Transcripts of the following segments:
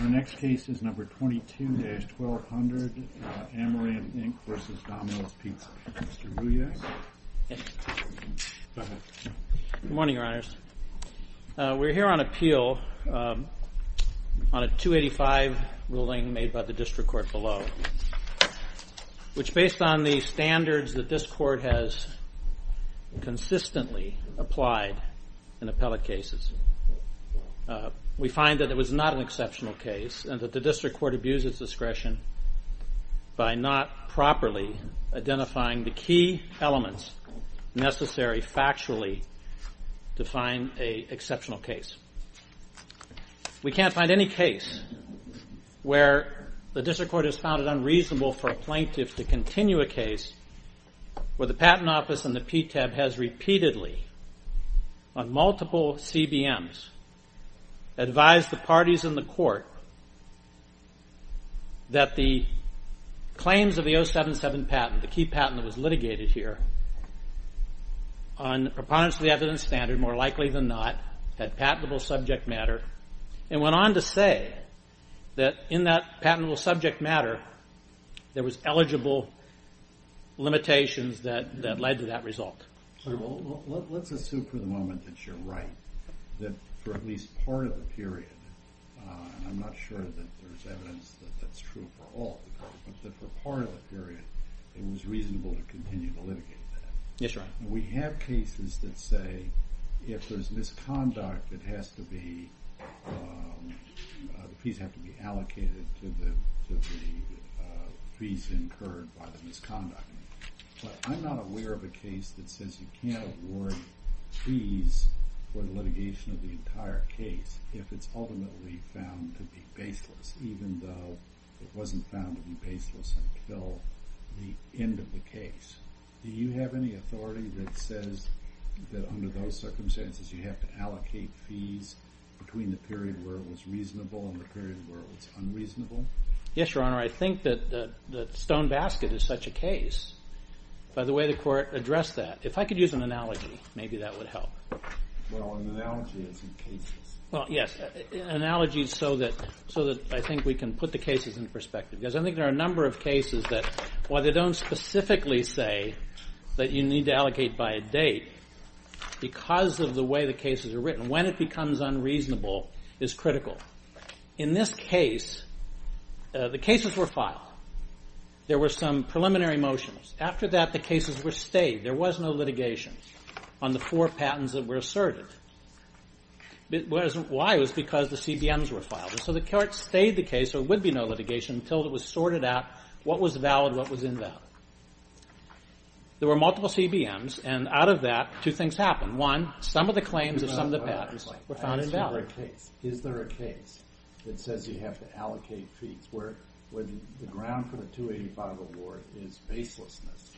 Our next case is number 22-1200, Amaranth, Inc. v. Domino''s Pizza. Mr. Ruiz. Good morning, your honors. We're here on appeal on a 285 ruling made by the district court below. Which based on the standards that this court has consistently applied in appellate cases, we find that it was not an exceptional case and that the district court abused its discretion by not properly identifying the key elements necessary factually to find an exceptional case. We can't find any case where the district court has found it unreasonable for a plaintiff to continue a case where the patent office and the PTAB has repeatedly on multiple CBMs advised the parties in the court that the claims of the 077 patent, the key patent that was litigated here, on preponderance of the evidence standard, more likely than not, had patentable subject matter, and went on to say that in that patentable subject matter there was eligible limitations that led to that result. Let's assume for the moment that you're right, that for at least part of the period, and I'm not sure that there's evidence that that's true for all, but that for part of the period it was reasonable to continue to litigate that. Yes, your honor. We have cases that say if there's misconduct, the fees have to be allocated to the fees incurred by the misconduct. But I'm not aware of a case that says you can't award fees for the litigation of the entire case if it's ultimately found to be baseless, even though it wasn't found to be baseless until the end of the case. Do you have any authority that says that under those circumstances you have to allocate fees between the period where it was reasonable and the period where it was unreasonable? Yes, your honor. I think that the stone basket is such a case, by the way the court addressed that. If I could use an analogy, maybe that would help. Well, an analogy isn't cases. Well, yes, an analogy is so that I think we can put the cases in perspective. Because I think there are a number of cases that while they don't specifically say that you need to allocate by a date, because of the way the cases are written, when it becomes unreasonable is critical. In this case, the cases were filed. There were some preliminary motions. After that, the cases were stayed. There was no litigation on the four patents that were asserted. Why? It was because the CBMs were filed. So the court stayed the case. There would be no litigation until it was sorted out what was valid and what was invalid. There were multiple CBMs. And out of that, two things happened. One, some of the claims of some of the patents were found invalid. Is there a case that says you have to allocate fees where the ground for the 285 award is baselessness?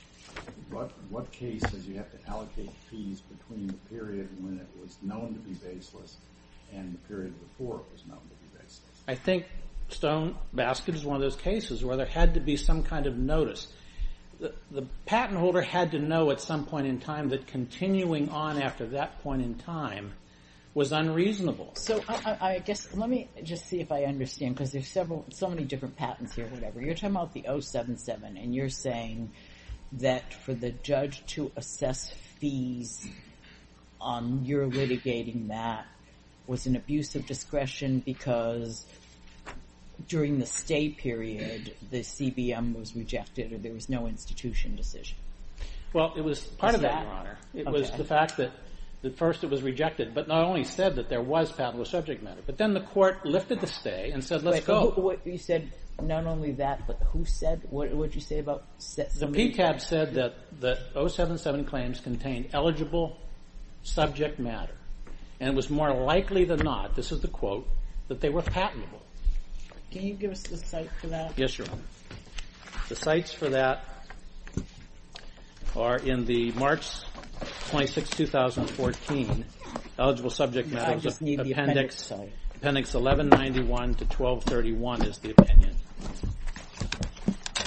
What case says you have to allocate fees between the period when it was known to be baseless and the period before it was known to be baseless? I think Stone Basket is one of those cases where there had to be some kind of notice. The patent holder had to know at some point in time that continuing on after that point in time was unreasonable. Let me just see if I understand, because there are so many different patents here. You're talking about the 077, and you're saying that for the judge to assess fees on your litigating that was an abuse of discretion because during the stay period, the CBM was rejected or there was no institution decision. Well, it was part of that, Your Honor. It was the fact that at first it was rejected, but not only said that there was patentless subject matter, but then the court lifted the stay and said, let's go. You said not only that, but who said, what did you say about... The PCAB said that the 077 claims contained eligible subject matter, and it was more likely than not, this is the quote, that they were patentable. Can you give us the site for that? Yes, Your Honor. The sites for that are in the March 26, 2014 eligible subject matter appendix 1191 to 1231 is the opinion.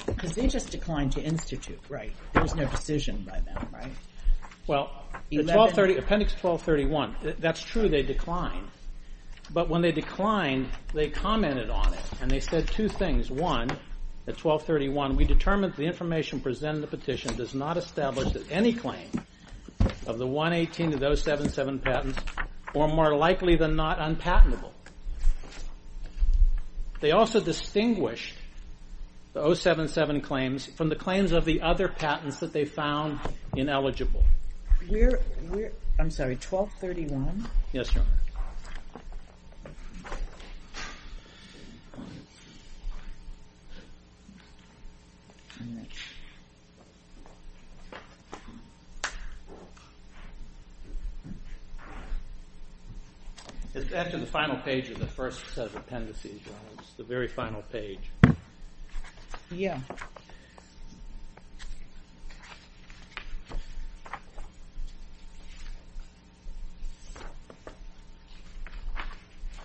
Because they just declined to institute, right? There was no decision by them, right? Well, appendix 1231, that's true, they declined. But when they declined, they commented on it, and they said two things. One, at 1231, we determined the information presented in the petition does not establish that any claim of the 118 and 077 patents were more likely than not unpatentable. They also distinguished the 077 claims from the claims of the other patents that they found ineligible. I'm sorry, 1231? Yes, Your Honor. It's after the final page of the first set of appendices, Your Honor, it's the very final page. Yeah.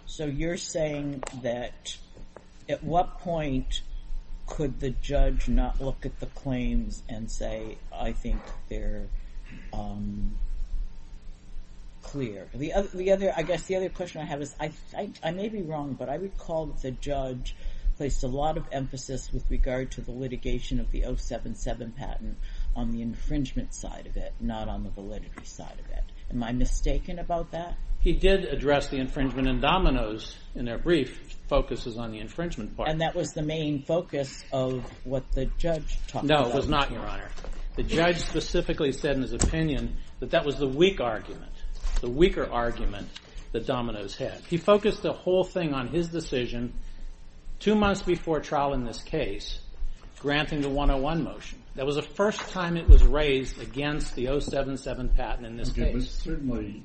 So you're saying that at what point could the judge not look at the claims and say, I think they're clear. I guess the other question I have is, I may be wrong, but I recall that the judge placed a lot of emphasis with regard to the litigation of the 077 patent on the infringement side of it, not on the validity side of it. Am I mistaken about that? He did address the infringement, and Domino's, in their brief, focuses on the infringement part. And that was the main focus of what the judge talked about. No, it was not, Your Honor. The judge specifically said in his opinion that that was the weak argument, the weaker argument that Domino's had. He focused the whole thing on his decision two months before trial in this case, granting the 101 motion. That was the first time it was raised against the 077 patent in this case. Certainly,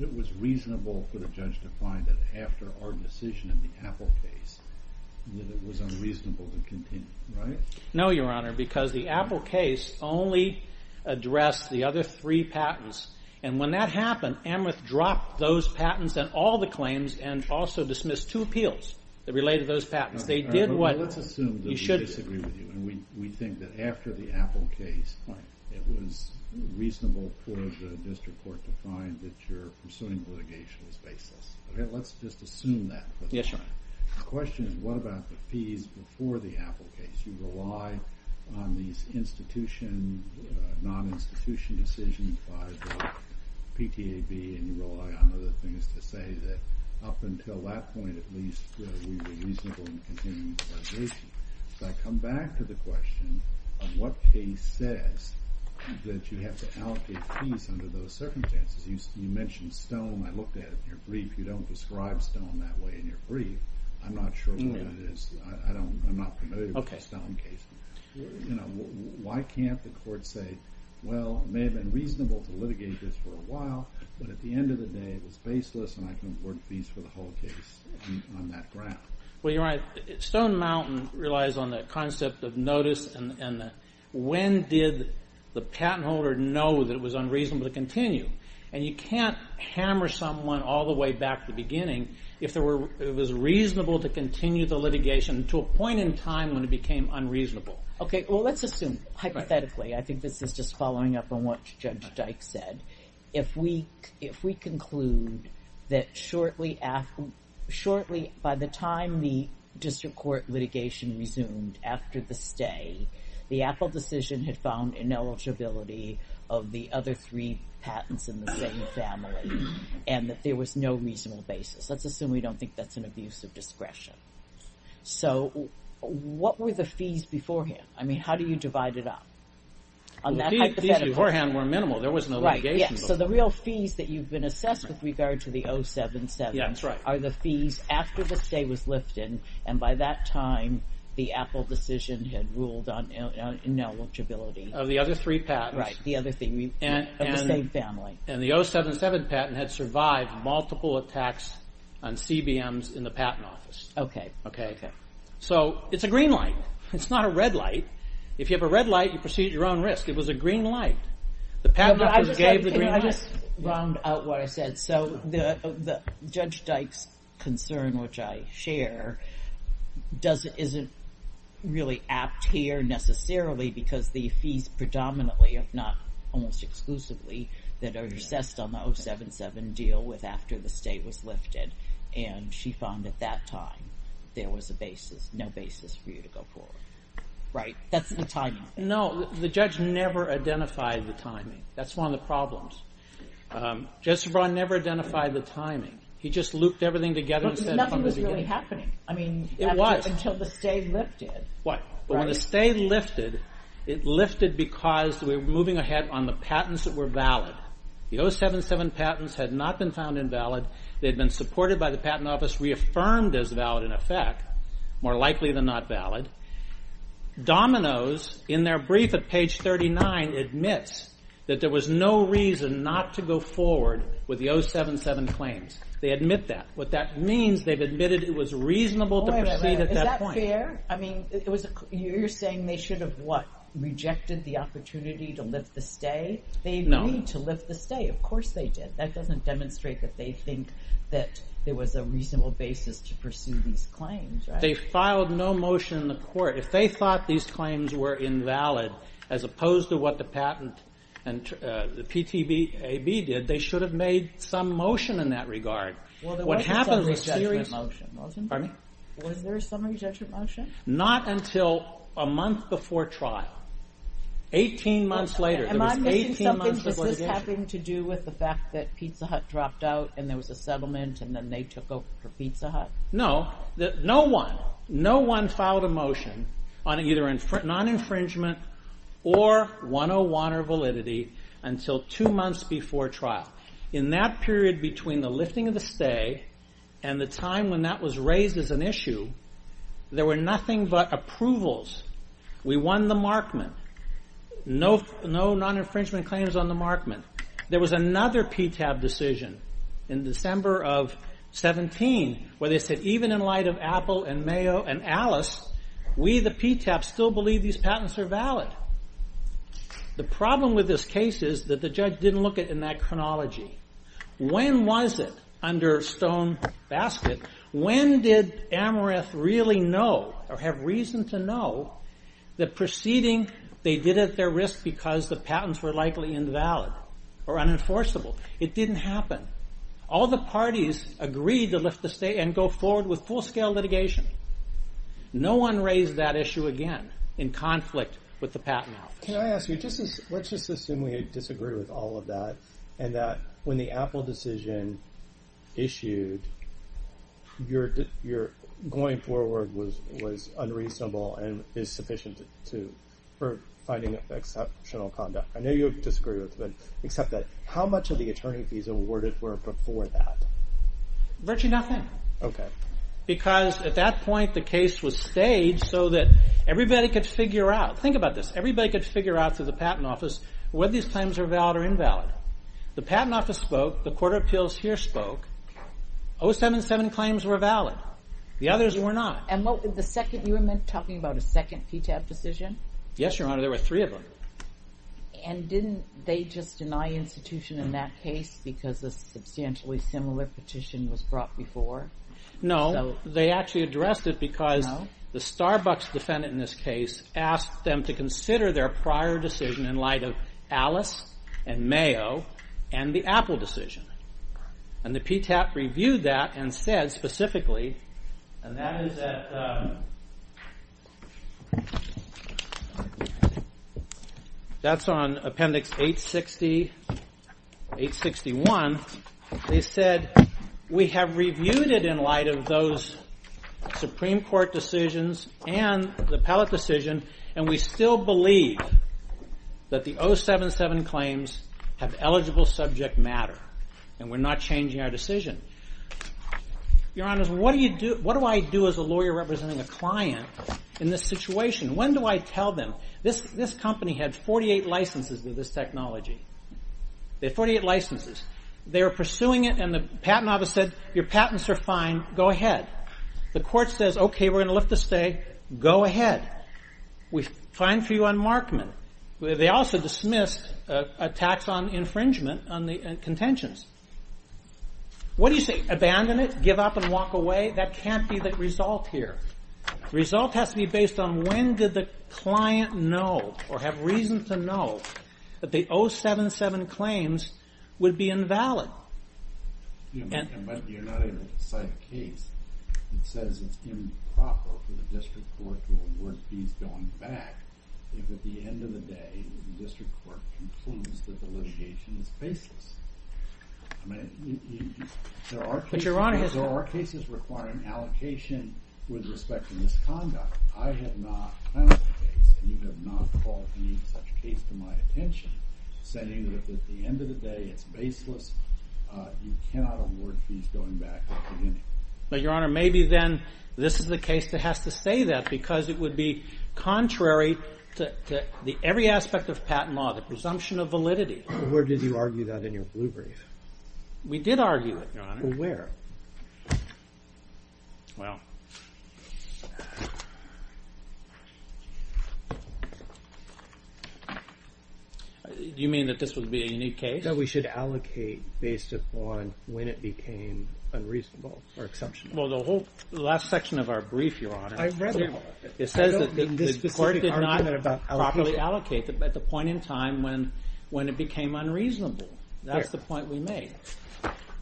it was reasonable for the judge to find that after our decision in the Apple case, that it was unreasonable to continue, right? No, Your Honor, because the Apple case only addressed the other three patents. And when that happened, Amroth dropped those patents and all the claims, and also dismissed two appeals that related to those patents. Let's assume that we disagree with you. We think that after the Apple case, it was reasonable for the district court to find that you're pursuing litigation as baseless. Let's just assume that. Yes, Your Honor. The question is, what about the fees before the Apple case? You relied on these institution, non-institution decisions by the PTAB, and you relied on other things to say that up until that point, at least, we were reasonable in continuing the litigation. So I come back to the question of what case says that you have to allocate fees under those circumstances. You mentioned Stone. I looked at it in your brief. You don't describe Stone that way in your brief. I'm not sure what it is. I'm not familiar with the Stone case. Why can't the court say, well, it may have been reasonable to litigate this for a while, but at the end of the day, it was baseless, and I can award fees for the whole case on that ground? Well, you're right. Stone Mountain relies on the concept of notice, and when did the patent holder know that it was unreasonable to continue? And you can't hammer someone all the way back to the beginning if it was reasonable to continue the litigation to a point in time when it became unreasonable. Okay, well, let's assume, hypothetically. I think this is just following up on what Judge Dyke said. If we conclude that shortly by the time the district court litigation resumed after the stay, the Apple decision had found ineligibility of the other three patents in the same family and that there was no reasonable basis. Let's assume we don't think that's an abuse of discretion. So what were the fees beforehand? I mean, how do you divide it up? The fees beforehand were minimal. There was no litigation. So the real fees that you've been assessed with regard to the 077 are the fees after the stay was lifted, and by that time, the Apple decision had ruled on ineligibility. Of the other three patents. Right, of the same family. And the 077 patent had survived multiple attacks on CBMs in the patent office. Okay. So it's a green light. It's not a red light. If you have a red light, you proceed at your own risk. It was a green light. The patent office gave the green light. Can I just round out what I said? So Judge Dyke's concern, which I share, isn't really apt here necessarily because the fees predominantly, if not almost exclusively, that are assessed on the 077 deal with after the stay was lifted, and she found at that time there was a basis, no basis for you to go forward. Right. That's the timing. No, the judge never identified the timing. That's one of the problems. Judge Sebron never identified the timing. He just looped everything together and said from the beginning. Nothing was really happening. It was. Until the stay lifted. What? Until the stay lifted. But when the stay lifted, it lifted because we were moving ahead on the patents that were valid. The 077 patents had not been found invalid. They had been supported by the patent office, reaffirmed as valid in effect, more likely than not valid. Domino's, in their brief at page 39, admits that there was no reason not to go forward with the 077 claims. They admit that. What that means, they've admitted it was reasonable to proceed at that point. Is that fair? You're saying they should have what? Rejected the opportunity to lift the stay? No. They agreed to lift the stay. Of course they did. That doesn't demonstrate that they think that there was a reasonable basis to pursue these claims. They filed no motion in the court. If they thought these claims were invalid, as opposed to what the patent and the PTAB did, they should have made some motion in that regard. Well, there was a summary judgment motion, wasn't there? Pardon me? Was there a summary judgment motion? Not until a month before trial. 18 months later. Am I missing something? Does this have to do with the fact that Pizza Hut dropped out and there was a settlement and then they took over for Pizza Hut? No. No one filed a motion on either non-infringement or 101 or validity until two months before trial. In that period between the lifting of the stay and the time when that was raised as an issue, there were nothing but approvals. We won the markment. No non-infringement claims on the markment. There was another PTAB decision in December of 17, where they said even in light of Apple and Mayo and Alice, we the PTAB still believe these patents are valid. The problem with this case is that the judge didn't look at it in that chronology. When was it under stone basket? When did Amherst really know or have reason to know that proceeding they did at their risk because the patents were likely invalid or unenforceable? It didn't happen. All the parties agreed to lift the stay and go forward with full-scale litigation. No one raised that issue again in conflict with the patent office. Can I ask you, let's just assume we disagree with all of that and that when the Apple decision issued, your going forward was unreasonable and is sufficient for finding exceptional conduct. I know you disagree with it, but how much of the attorney fees awarded were before that? Virtually nothing. Because at that point the case was staged so that everybody could figure out through the patent office whether these claims were valid or invalid. The patent office spoke, the court of appeals here spoke, 077 claims were valid. The others were not. You were talking about a second PTAB decision? Yes, there were three of them. And didn't they just deny institution in that case because a substantially similar petition was brought before? No, they actually addressed it because the Starbucks defendant in this case asked them to consider their prior decision in light of Alice and Mayo and the Apple decision. And the PTAB reviewed that and said specifically, and that is on appendix 861, they said we have reviewed it in light of those Supreme Court decisions and the Pellet decision and we still believe that the 077 claims have eligible subject matter and we're not changing our decision. Your Honor, what do I do as a lawyer representing a client in this situation? When do I tell them? This company had 48 licenses of this technology. They had 48 licenses. They were pursuing it and the patent office said your patents are fine, go ahead. The court says okay, we're going to lift the stay, go ahead. We find for you unmarkment. They also dismissed a tax on infringement on the contentions. What do you say? Abandon it? Give up and walk away? That can't be the result here. The result has to be based on when did the client know or have reason to know that the 077 claims would be invalid. You're not able to cite a case that says it's improper for the district court to award fees going back if at the end of the day the district court concludes that the litigation is baseless. There are cases requiring allocation with respect to misconduct. I have not found a case and you have not called any such case to my attention saying that at the end of the day it's baseless. You cannot award fees going back. Your Honor, maybe then this is the case that has to say that because it would be contrary to every aspect of patent law, the presumption of validity. Where did you argue that in your blue brief? We did argue it, Your Honor. Where? Do you mean that this would be a unique case? That we should allocate based upon when it became unreasonable or exceptional. Well, the whole last section of our brief, Your Honor, it says that the court did not properly allocate at the point in time when it became unreasonable. That's the point we made.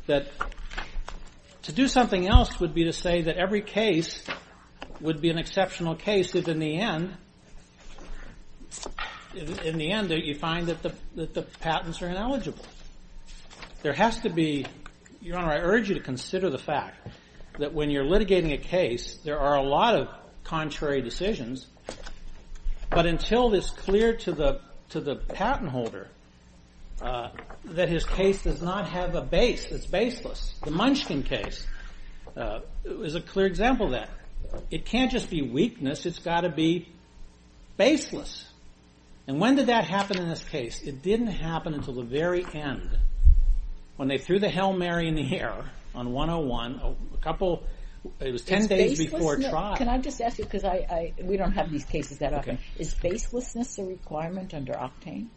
To do something else would be to say that every case would be an exceptional case if in the end you find that the patents are ineligible. Your Honor, I urge you to consider the fact that when you're litigating a case, there are a lot of contrary decisions. But until it's clear to the patent holder that his case does not have a base, it's baseless. The Munchkin case is a clear example of that. It can't just be weakness, it's got to be baseless. And when did that happen in this case? It didn't happen until the very end. When they threw the Hail Mary in the air on 101, it was 10 days before trial. Can I just ask you, because we don't have these cases that often, is baselessness a requirement under Octane?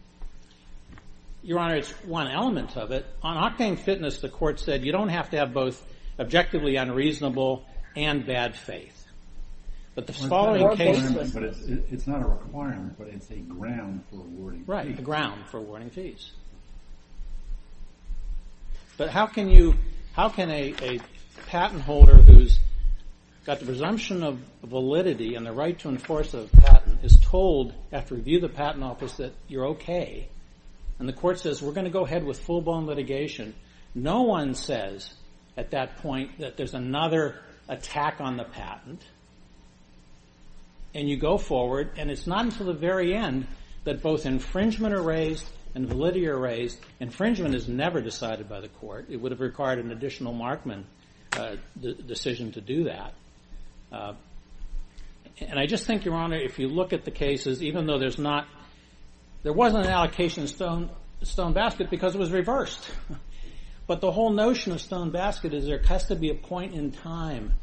Your Honor, it's one element of it. On Octane Fitness, the court said you don't have to have both objectively unreasonable and bad faith. It's not a requirement, but it's a ground for awarding fees. Right, a ground for awarding fees. But how can a patent holder who's got the presumption of validity and the right to enforce a patent is told after review of the patent office that you're okay? And the court says, we're going to go ahead with full-blown litigation. No one says at that point that there's another attack on the patent. And you go forward, and it's not until the very end that both infringement are raised and validity are raised. Infringement is never decided by the court. It would have required an additional markman decision to do that. And I just think, Your Honor, if you look at the cases, even though there's not... There wasn't an allocation of stone basket because it was reversed. But the whole notion of stone basket is there has to be a point in time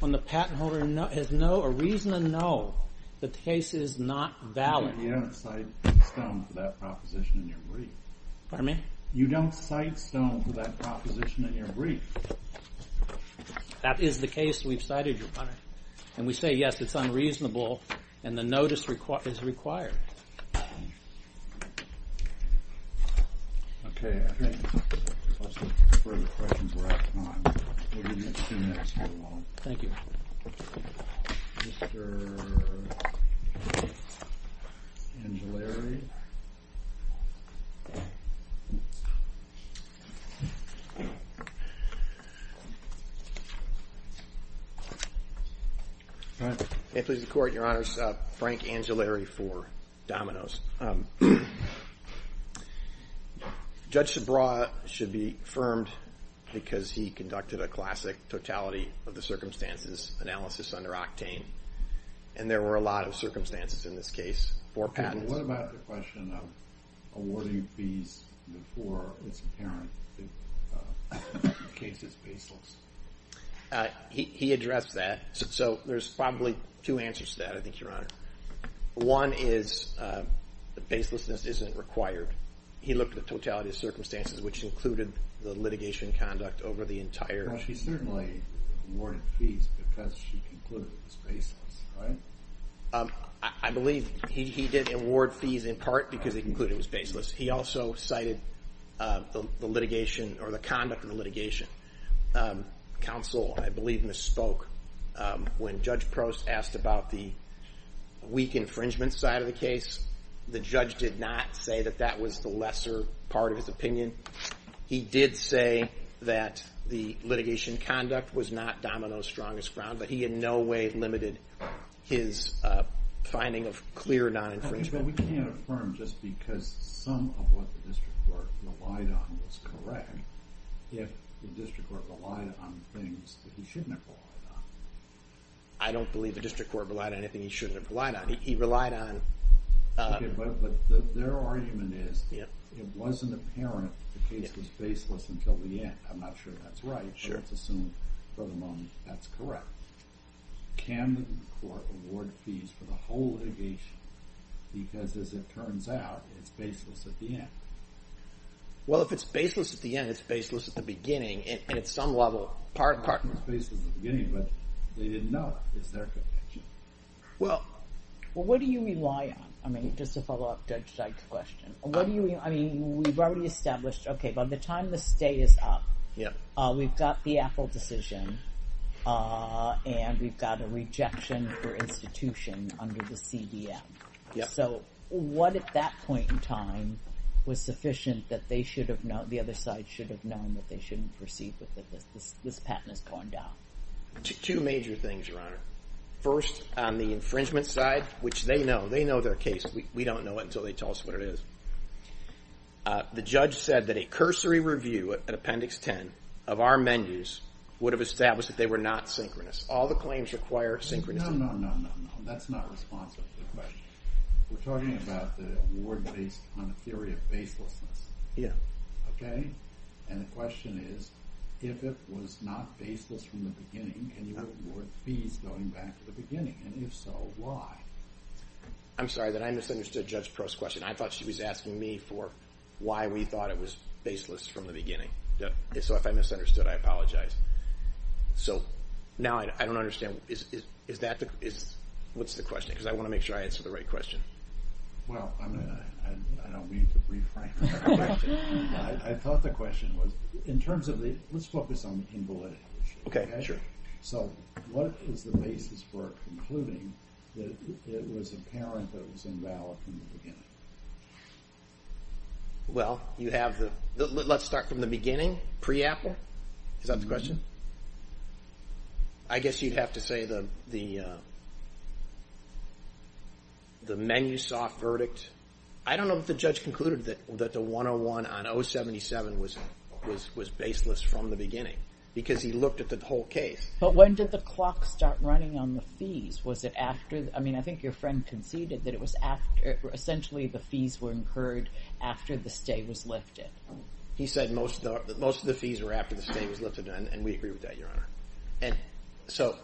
when the patent holder has a reason to know that the case is not valid. You don't cite stone for that proposition in your brief. Pardon me? You don't cite stone for that proposition in your brief. That is the case we've cited, Your Honor. And we say, yes, it's unreasonable, and the notice is required. Okay. I think those are the questions we're out of time. We're going to get two minutes here long. Thank you. Mr. Angellari. May it please the Court, Your Honors. Frank Angellari for Domino's. Judge Subraw should be affirmed because he conducted a classic totality of the circumstances analysis under Octane, and there were a lot of circumstances in this case for patents. What about the question of awarding fees before it's apparent the case is baseless? He addressed that. So there's probably two answers to that, I think, Your Honor. One is that baselessness isn't required. He looked at the totality of circumstances, which included the litigation conduct over the entire. Well, she certainly awarded fees because she concluded it was baseless, right? I believe he did award fees in part because he concluded it was baseless. He also cited the litigation or the conduct of the litigation. Counsel, I believe, misspoke. When Judge Prost asked about the weak infringement side of the case, the judge did not say that that was the lesser part of his opinion. He did say that the litigation conduct was not Domino's strongest ground, but he in no way limited his finding of clear non-infringement. Okay, but we can't affirm just because some of what the district court relied on was correct if the district court relied on things that he shouldn't have relied on. I don't believe the district court relied on anything he shouldn't have relied on. He relied on... Okay, but their argument is it wasn't apparent the case was baseless until the end. I'm not sure that's right, but let's assume for the moment that's correct. Can the court award fees for the whole litigation because, as it turns out, it's baseless at the end? Well, if it's baseless at the end, it's baseless at the beginning, and at some level... It's baseless at the beginning, but they didn't know it. It's their conviction. Well, what do you rely on? I mean, just to follow up Judge Dyke's question. We've already established, okay, by the time the stay is up, we've got the Apple decision, and we've got a rejection for institution under the CDM. So what, at that point in time, was sufficient that the other side should have known that they shouldn't proceed with it, that this patent is going down? Two major things, Your Honor. First, on the infringement side, which they know, they know their case. We don't know it until they tell us what it is. The judge said that a cursory review at Appendix 10 of our menus would have established that they were not synchronous. All the claims require synchronous. No, no, no, no, no, no. That's not responsive to the question. We're talking about the award based on a theory of baselessness. Yeah. Okay? And the question is, if it was not baseless from the beginning, can you award fees going back to the beginning, and if so, why? I'm sorry, then I misunderstood Judge Prost's question. I thought she was asking me for why we thought it was baseless from the beginning. So if I misunderstood, I apologize. So now I don't understand. What's the question? Because I want to make sure I answer the right question. Well, I don't mean to reframe the question. I thought the question was, in terms of the—let's focus on the invalid. Okay, sure. So what is the basis for concluding that it was apparent that it was invalid from the beginning? Well, you have the—let's start from the beginning, pre-Apple. Is that the question? I guess you'd have to say the Menusoft verdict. I don't know if the judge concluded that the 101 on 077 was baseless from the beginning because he looked at the whole case. But when did the clock start running on the fees? Was it after—I mean, I think your friend conceded that it was after— essentially the fees were incurred after the stay was lifted. He said most of the fees were after the stay was lifted, and we agree with that, Your Honor. And so—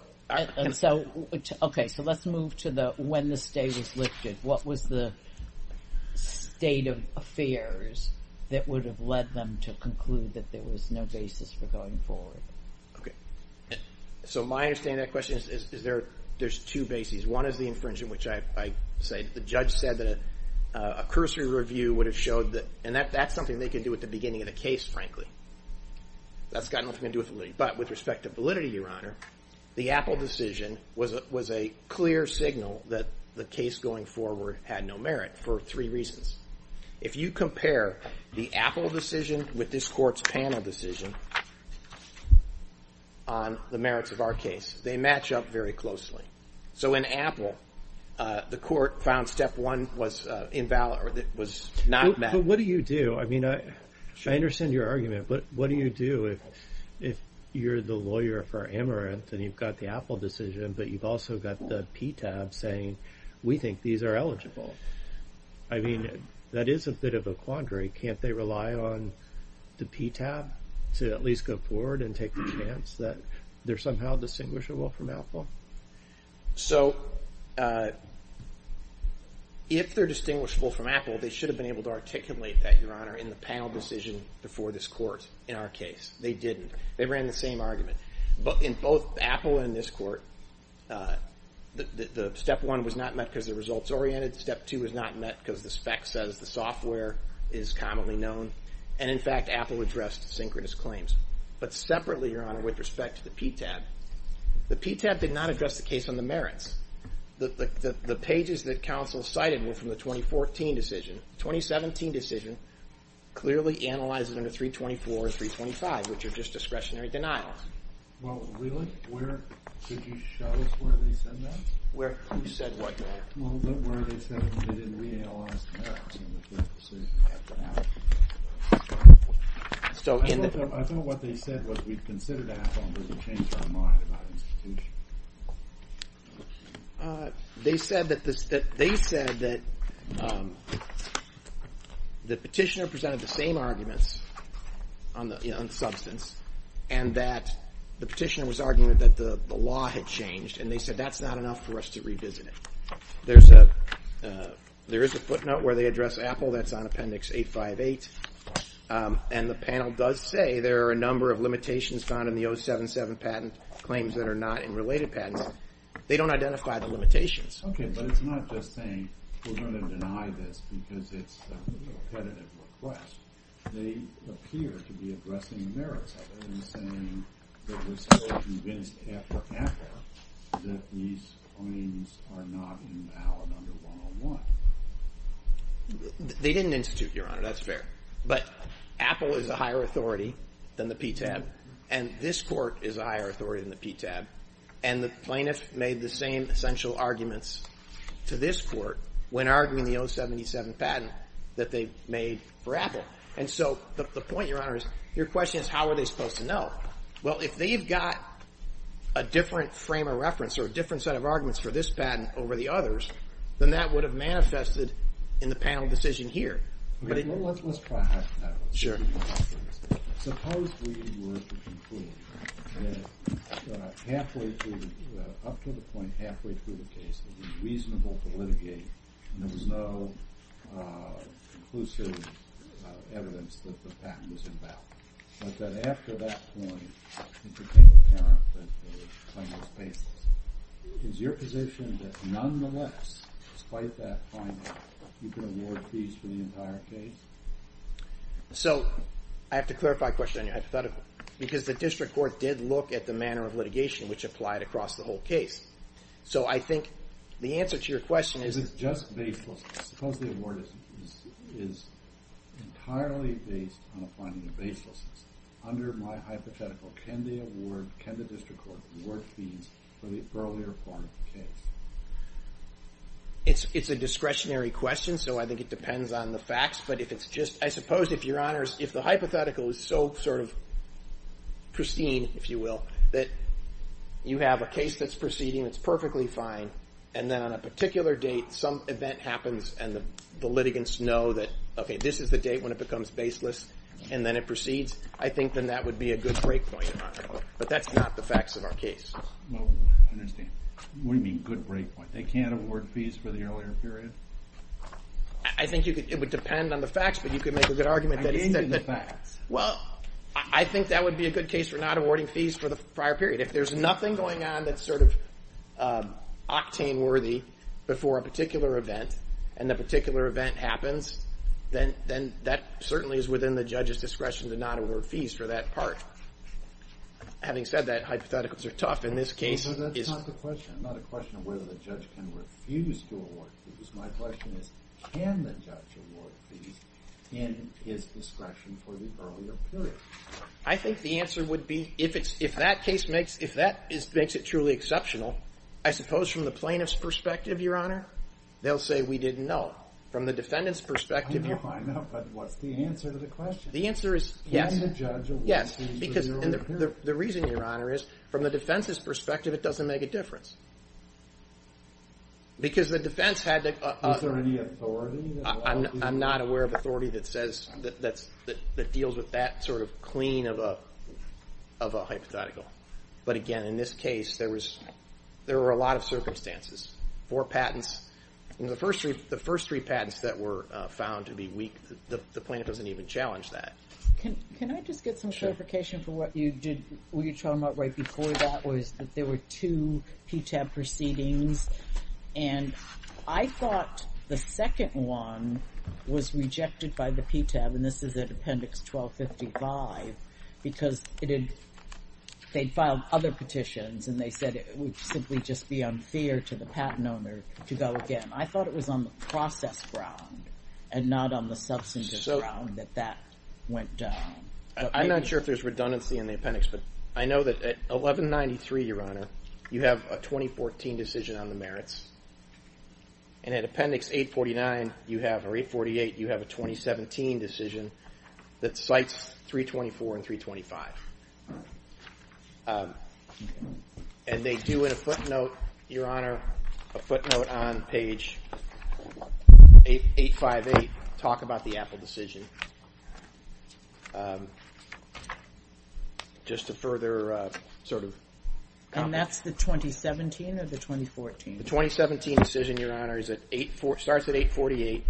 Okay, so let's move to the when the stay was lifted. What was the state of affairs that would have led them to conclude that there was no basis for going forward? Okay, so my understanding of that question is there's two bases. One is the infringement, which I say the judge said that a cursory review would have showed that— and that's something they can do at the beginning of the case, frankly. That's got nothing to do with validity. But with respect to validity, Your Honor, the Apple decision was a clear signal that the case going forward had no merit for three reasons. If you compare the Apple decision with this Court's panel decision on the merits of our case, they match up very closely. So in Apple, the Court found step one was not met. But what do you do? I mean, I understand your argument, but what do you do if you're the lawyer for Amaranth and you've got the Apple decision, but you've also got the PTAB saying we think these are eligible? I mean, that is a bit of a quandary. Can't they rely on the PTAB to at least go forward and take the chance that they're somehow distinguishable from Apple? So if they're distinguishable from Apple, they should have been able to articulate that, Your Honor, in the panel decision before this Court in our case. They didn't. They ran the same argument. In both Apple and this Court, the step one was not met because the result's oriented. Step two was not met because the spec says the software is commonly known. And, in fact, Apple addressed synchronous claims. But separately, Your Honor, with respect to the PTAB, the PTAB did not address the case on the merits. The pages that counsel cited were from the 2014 decision. The 2017 decision clearly analyzes under 324 and 325, which are just discretionary denials. Well, really? Could you show us where they said that? Where? You said what? Well, where they said they didn't reanalyze the merits in the first decision. I thought what they said was we've considered Apple, but we've changed our mind about institutions. They said that the petitioner presented the same arguments on the substance and that the petitioner was arguing that the law had changed, and they said that's not enough for us to revisit it. There is a footnote where they address Apple. That's on Appendix 858. And the panel does say there are a number of limitations found in the 077 patent claims that are not in related patents. They don't identify the limitations. Okay, but it's not just saying we're going to deny this because it's a repetitive request. They appear to be addressing the merits, other than saying that we're still convinced after Apple that these claims are not invalid under 101. They didn't institute, Your Honor. That's fair. But Apple is a higher authority than the PTAB, and this Court is a higher authority than the PTAB, and the plaintiff made the same essential arguments to this Court when arguing the 077 patent that they made for Apple. And so the point, Your Honor, is your question is, how are they supposed to know? Well, if they've got a different frame of reference or a different set of arguments for this patent over the others, then that would have manifested in the panel decision here. Let's try that. Suppose we were to conclude that halfway through, it would be reasonable to litigate and there was no conclusive evidence that the patent was invalid. But then after that point, it became apparent that the claim was baseless. Is your position that nonetheless, despite that finding, you can award fees for the entire case? So I have to clarify a question on your hypothetical because the District Court did look at the manner of litigation which applied across the whole case. So I think the answer to your question is... Just baselessness. Suppose the award is entirely based on a finding of baselessness. Under my hypothetical, can the District Court award fees for the earlier part of the case? It's a discretionary question, so I think it depends on the facts. But I suppose, Your Honors, if the hypothetical is so sort of pristine, if you will, that you have a case that's proceeding, it's perfectly fine, and then on a particular date, some event happens and the litigants know that, okay, this is the date when it becomes baseless and then it proceeds, I think then that would be a good breakpoint, Your Honor. But that's not the facts of our case. I understand. What do you mean, good breakpoint? They can't award fees for the earlier period? I think it would depend on the facts, but you could make a good argument that... I gave you the facts. Well, I think that would be a good case for not awarding fees for the prior period. If there's nothing going on that's sort of octane-worthy before a particular event, and the particular event happens, then that certainly is within the judge's discretion to not award fees for that part. Having said that, hypotheticals are tough in this case. That's not the question. It's not a question of whether the judge can refuse to award fees. My question is, can the judge award fees in his discretion for the earlier period? I think the answer would be, if that case makes it truly exceptional, I suppose from the plaintiff's perspective, Your Honor, they'll say, we didn't know. From the defendant's perspective... I know, I know, but what's the answer to the question? The answer is yes. Can the judge award fees for the earlier period? Yes, because the reason, Your Honor, is from the defense's perspective, it doesn't make a difference. Because the defense had to... Is there any authority? I'm not aware of authority that deals with that sort of clean of a hypothetical. But again, in this case, there were a lot of circumstances for patents. The first three patents that were found to be weak, the plaintiff doesn't even challenge that. Can I just get some clarification for what you were talking about right before that was that there were two PTAB proceedings, and I thought the second one was rejected by the PTAB, and this is at Appendix 1255, because they'd filed other petitions and they said it would simply just be unfair to the patent owner to go again. I thought it was on the process ground and not on the substantive ground that that went down. I'm not sure if there's redundancy in the appendix, but I know that at 1193, Your Honor, you have a 2014 decision on the merits, and at Appendix 848 you have a 2017 decision that cites 324 and 325. And they do, in a footnote, Your Honor, a footnote on page 858, talk about the Apple decision. Just to further sort of comment. And that's the 2017 or the 2014? The 2017 decision, Your Honor, starts at 848.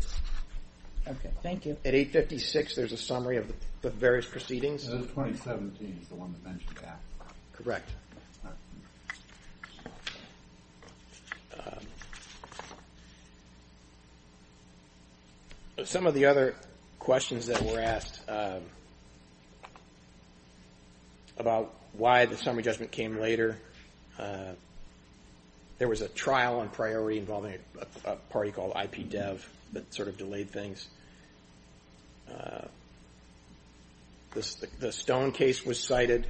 Okay, thank you. At 856 there's a summary of the various proceedings. The 2017 is the one that mentioned Apple. Correct. Okay. Some of the other questions that were asked about why the summary judgment came later, there was a trial on priority involving a party called IPDEV that sort of delayed things. The Stone case was cited.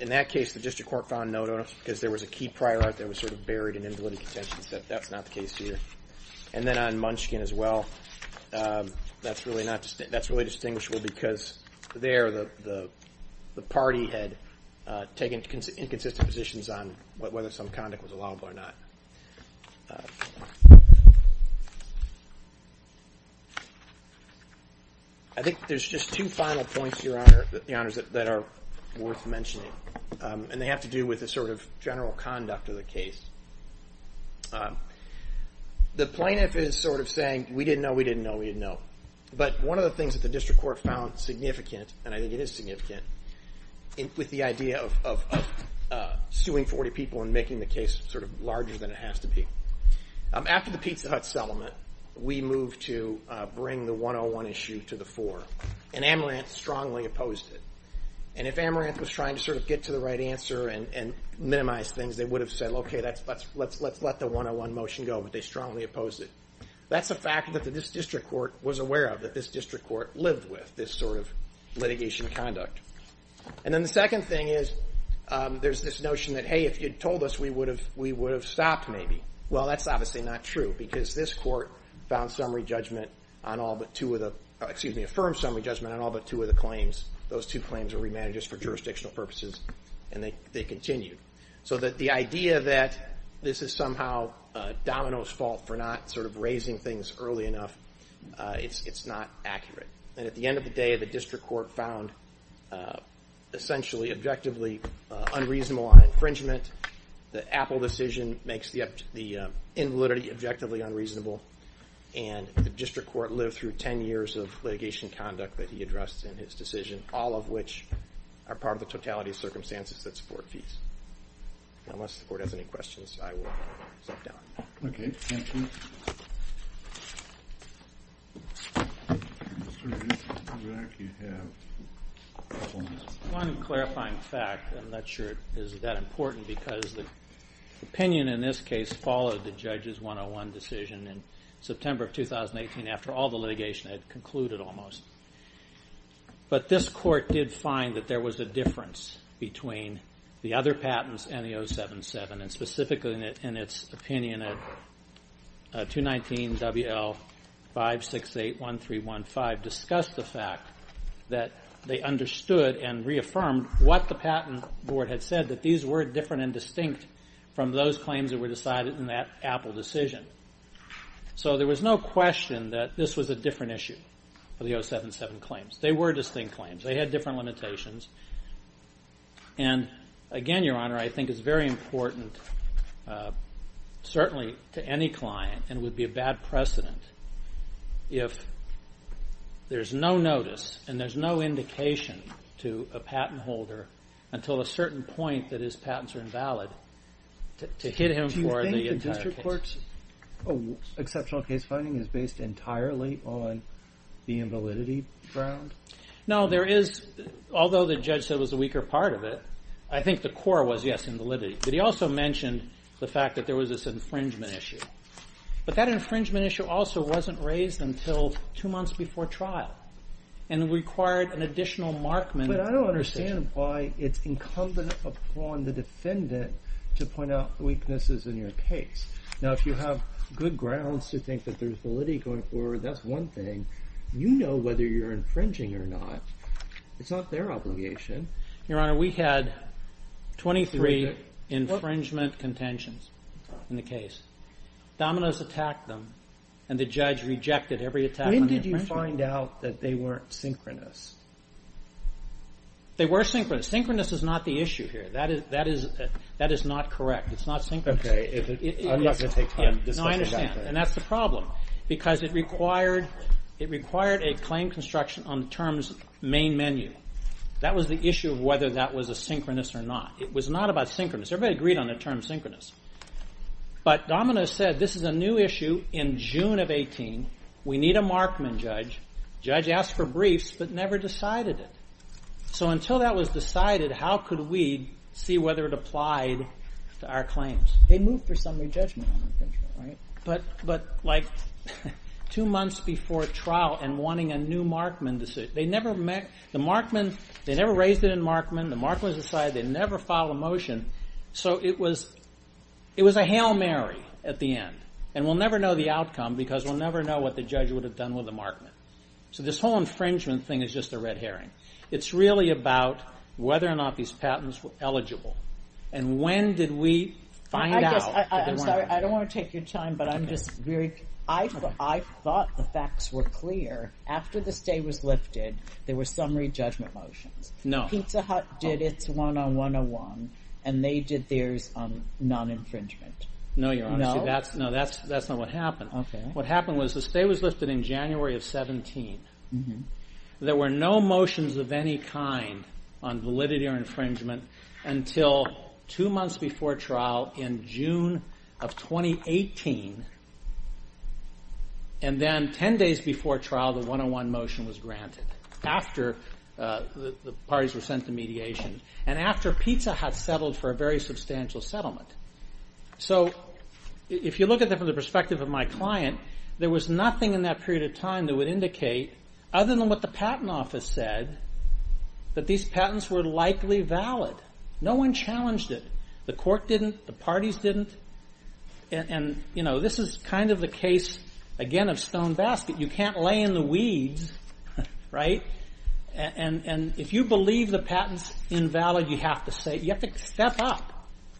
In that case the district court found no notice because there was a key priority that was sort of buried in invalidity contention, so that's not the case here. And then on Munchkin as well, that's really distinguishable because there the party had taken inconsistent positions on whether some conduct was allowable or not. I think there's just two final points, Your Honor, that are worth mentioning, and they have to do with the sort of general conduct of the case. The plaintiff is sort of saying, we didn't know, we didn't know, we didn't know. But one of the things that the district court found significant, and I think it is significant, with the idea of suing 40 people and making the case sort of larger than it has to be. After the Pizza Hut settlement, we moved to bring the 101 issue to the fore, and Amaranth strongly opposed it. And if Amaranth was trying to sort of get to the right answer and minimize things, they would have said, well, okay, let's let the 101 motion go, but they strongly opposed it. That's a fact that this district court was aware of, that this district court lived with this sort of litigation conduct. And then the second thing is there's this notion that, hey, if you'd told us we would have stopped maybe. Well, that's obviously not true because this court found summary judgment on all but two of the – excuse me, affirmed summary judgment on all but two of the claims. Those two claims were remanded just for jurisdictional purposes, and they continued. So that the idea that this is somehow Domino's fault for not sort of raising things early enough, it's not accurate. And at the end of the day, the district court found essentially, objectively unreasonable infringement. The Apple decision makes the invalidity objectively unreasonable. And the district court lived through 10 years of litigation conduct that he addressed in his decision, all of which are part of the totality of circumstances that support fees. Unless the court has any questions, I will step down. Okay, thank you. One clarifying fact, I'm not sure it is that important, because the opinion in this case followed the judge's 101 decision in September of 2018 after all the litigation had concluded almost. But this court did find that there was a difference between the other patents and the 077, and specifically in its opinion at 219 WL5681315 discussed the fact that they understood and reaffirmed what the patent board had said, that these were different and distinct from those claims that were decided in that Apple decision. So there was no question that this was a different issue for the 077 claims. They were distinct claims. They had different limitations. And again, Your Honor, I think it's very important, certainly to any client, and it would be a bad precedent if there's no notice and there's no indication to a patent holder until a certain point that his patents are invalid to hit him for the entire case. Do you think the district court's exceptional case finding is based entirely on the invalidity ground? No, there is, although the judge said it was a weaker part of it, I think the core was, yes, invalidity. But he also mentioned the fact that there was this infringement issue. But that infringement issue also wasn't raised until two months before trial and required an additional markman. But I don't understand why it's incumbent upon the defendant to point out weaknesses in your case. Now, if you have good grounds to think that there's validity going forward, that's one thing. You know whether you're infringing or not. It's not their obligation. Your Honor, we had 23 infringement contentions in the case. Dominos attacked them, and the judge rejected every attack on the infringer. When did you find out that they weren't synchronous? They were synchronous. Synchronous is not the issue here. That is not correct. It's not synchronous. Okay, I'm not going to take time to discuss that. No, I understand, and that's the problem because it required a claim construction on the term's main menu. That was the issue of whether that was a synchronous or not. It was not about synchronous. Everybody agreed on the term synchronous. But Dominos said this is a new issue in June of 18. We need a markman judge. The judge asked for briefs but never decided it. So until that was decided, how could we see whether it applied to our claims? They moved for summary judgment on infringement, right? But like two months before trial and wanting a new markman decision. They never raised it in markman. The markman was decided. They never filed a motion. So it was a hail Mary at the end. And we'll never know the outcome because we'll never know what the judge would have done with a markman. So this whole infringement thing is just a red herring. It's really about whether or not these patents were eligible. And when did we find out that they weren't eligible? I don't want to take your time, but I thought the facts were clear. After the stay was lifted, there were summary judgment motions. Pizza Hut did its one on 101, and they did theirs on non-infringement. No, that's not what happened. What happened was the stay was lifted in January of 17. There were no motions of any kind on validity or infringement until two months before trial in June of 2018. And then ten days before trial, the one on one motion was granted after the parties were sent to mediation and after Pizza Hut settled for a very substantial settlement. So if you look at it from the perspective of my client, there was nothing in that period of time that would indicate, other than what the patent office said, that these patents were likely valid. No one challenged it. The court didn't. The parties didn't. And this is kind of the case, again, of stone basket. You can't lay in the weeds, right? And if you believe the patent's invalid, you have to step up.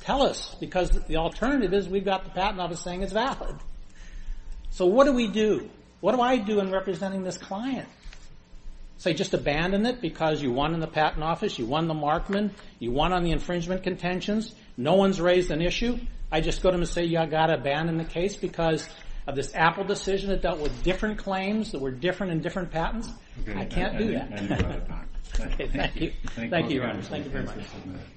Tell us, because the alternative is we've got the patent office saying it's valid. So what do we do? What do I do in representing this client? Say just abandon it because you won in the patent office, you won the Markman, you won on the infringement contentions. No one's raised an issue. I just go to them and say, yeah, I've got to abandon the case because of this Apple decision that dealt with different claims that were different in different patents. I can't do that. Thank you. Thank you, Your Honor. Thank you very much.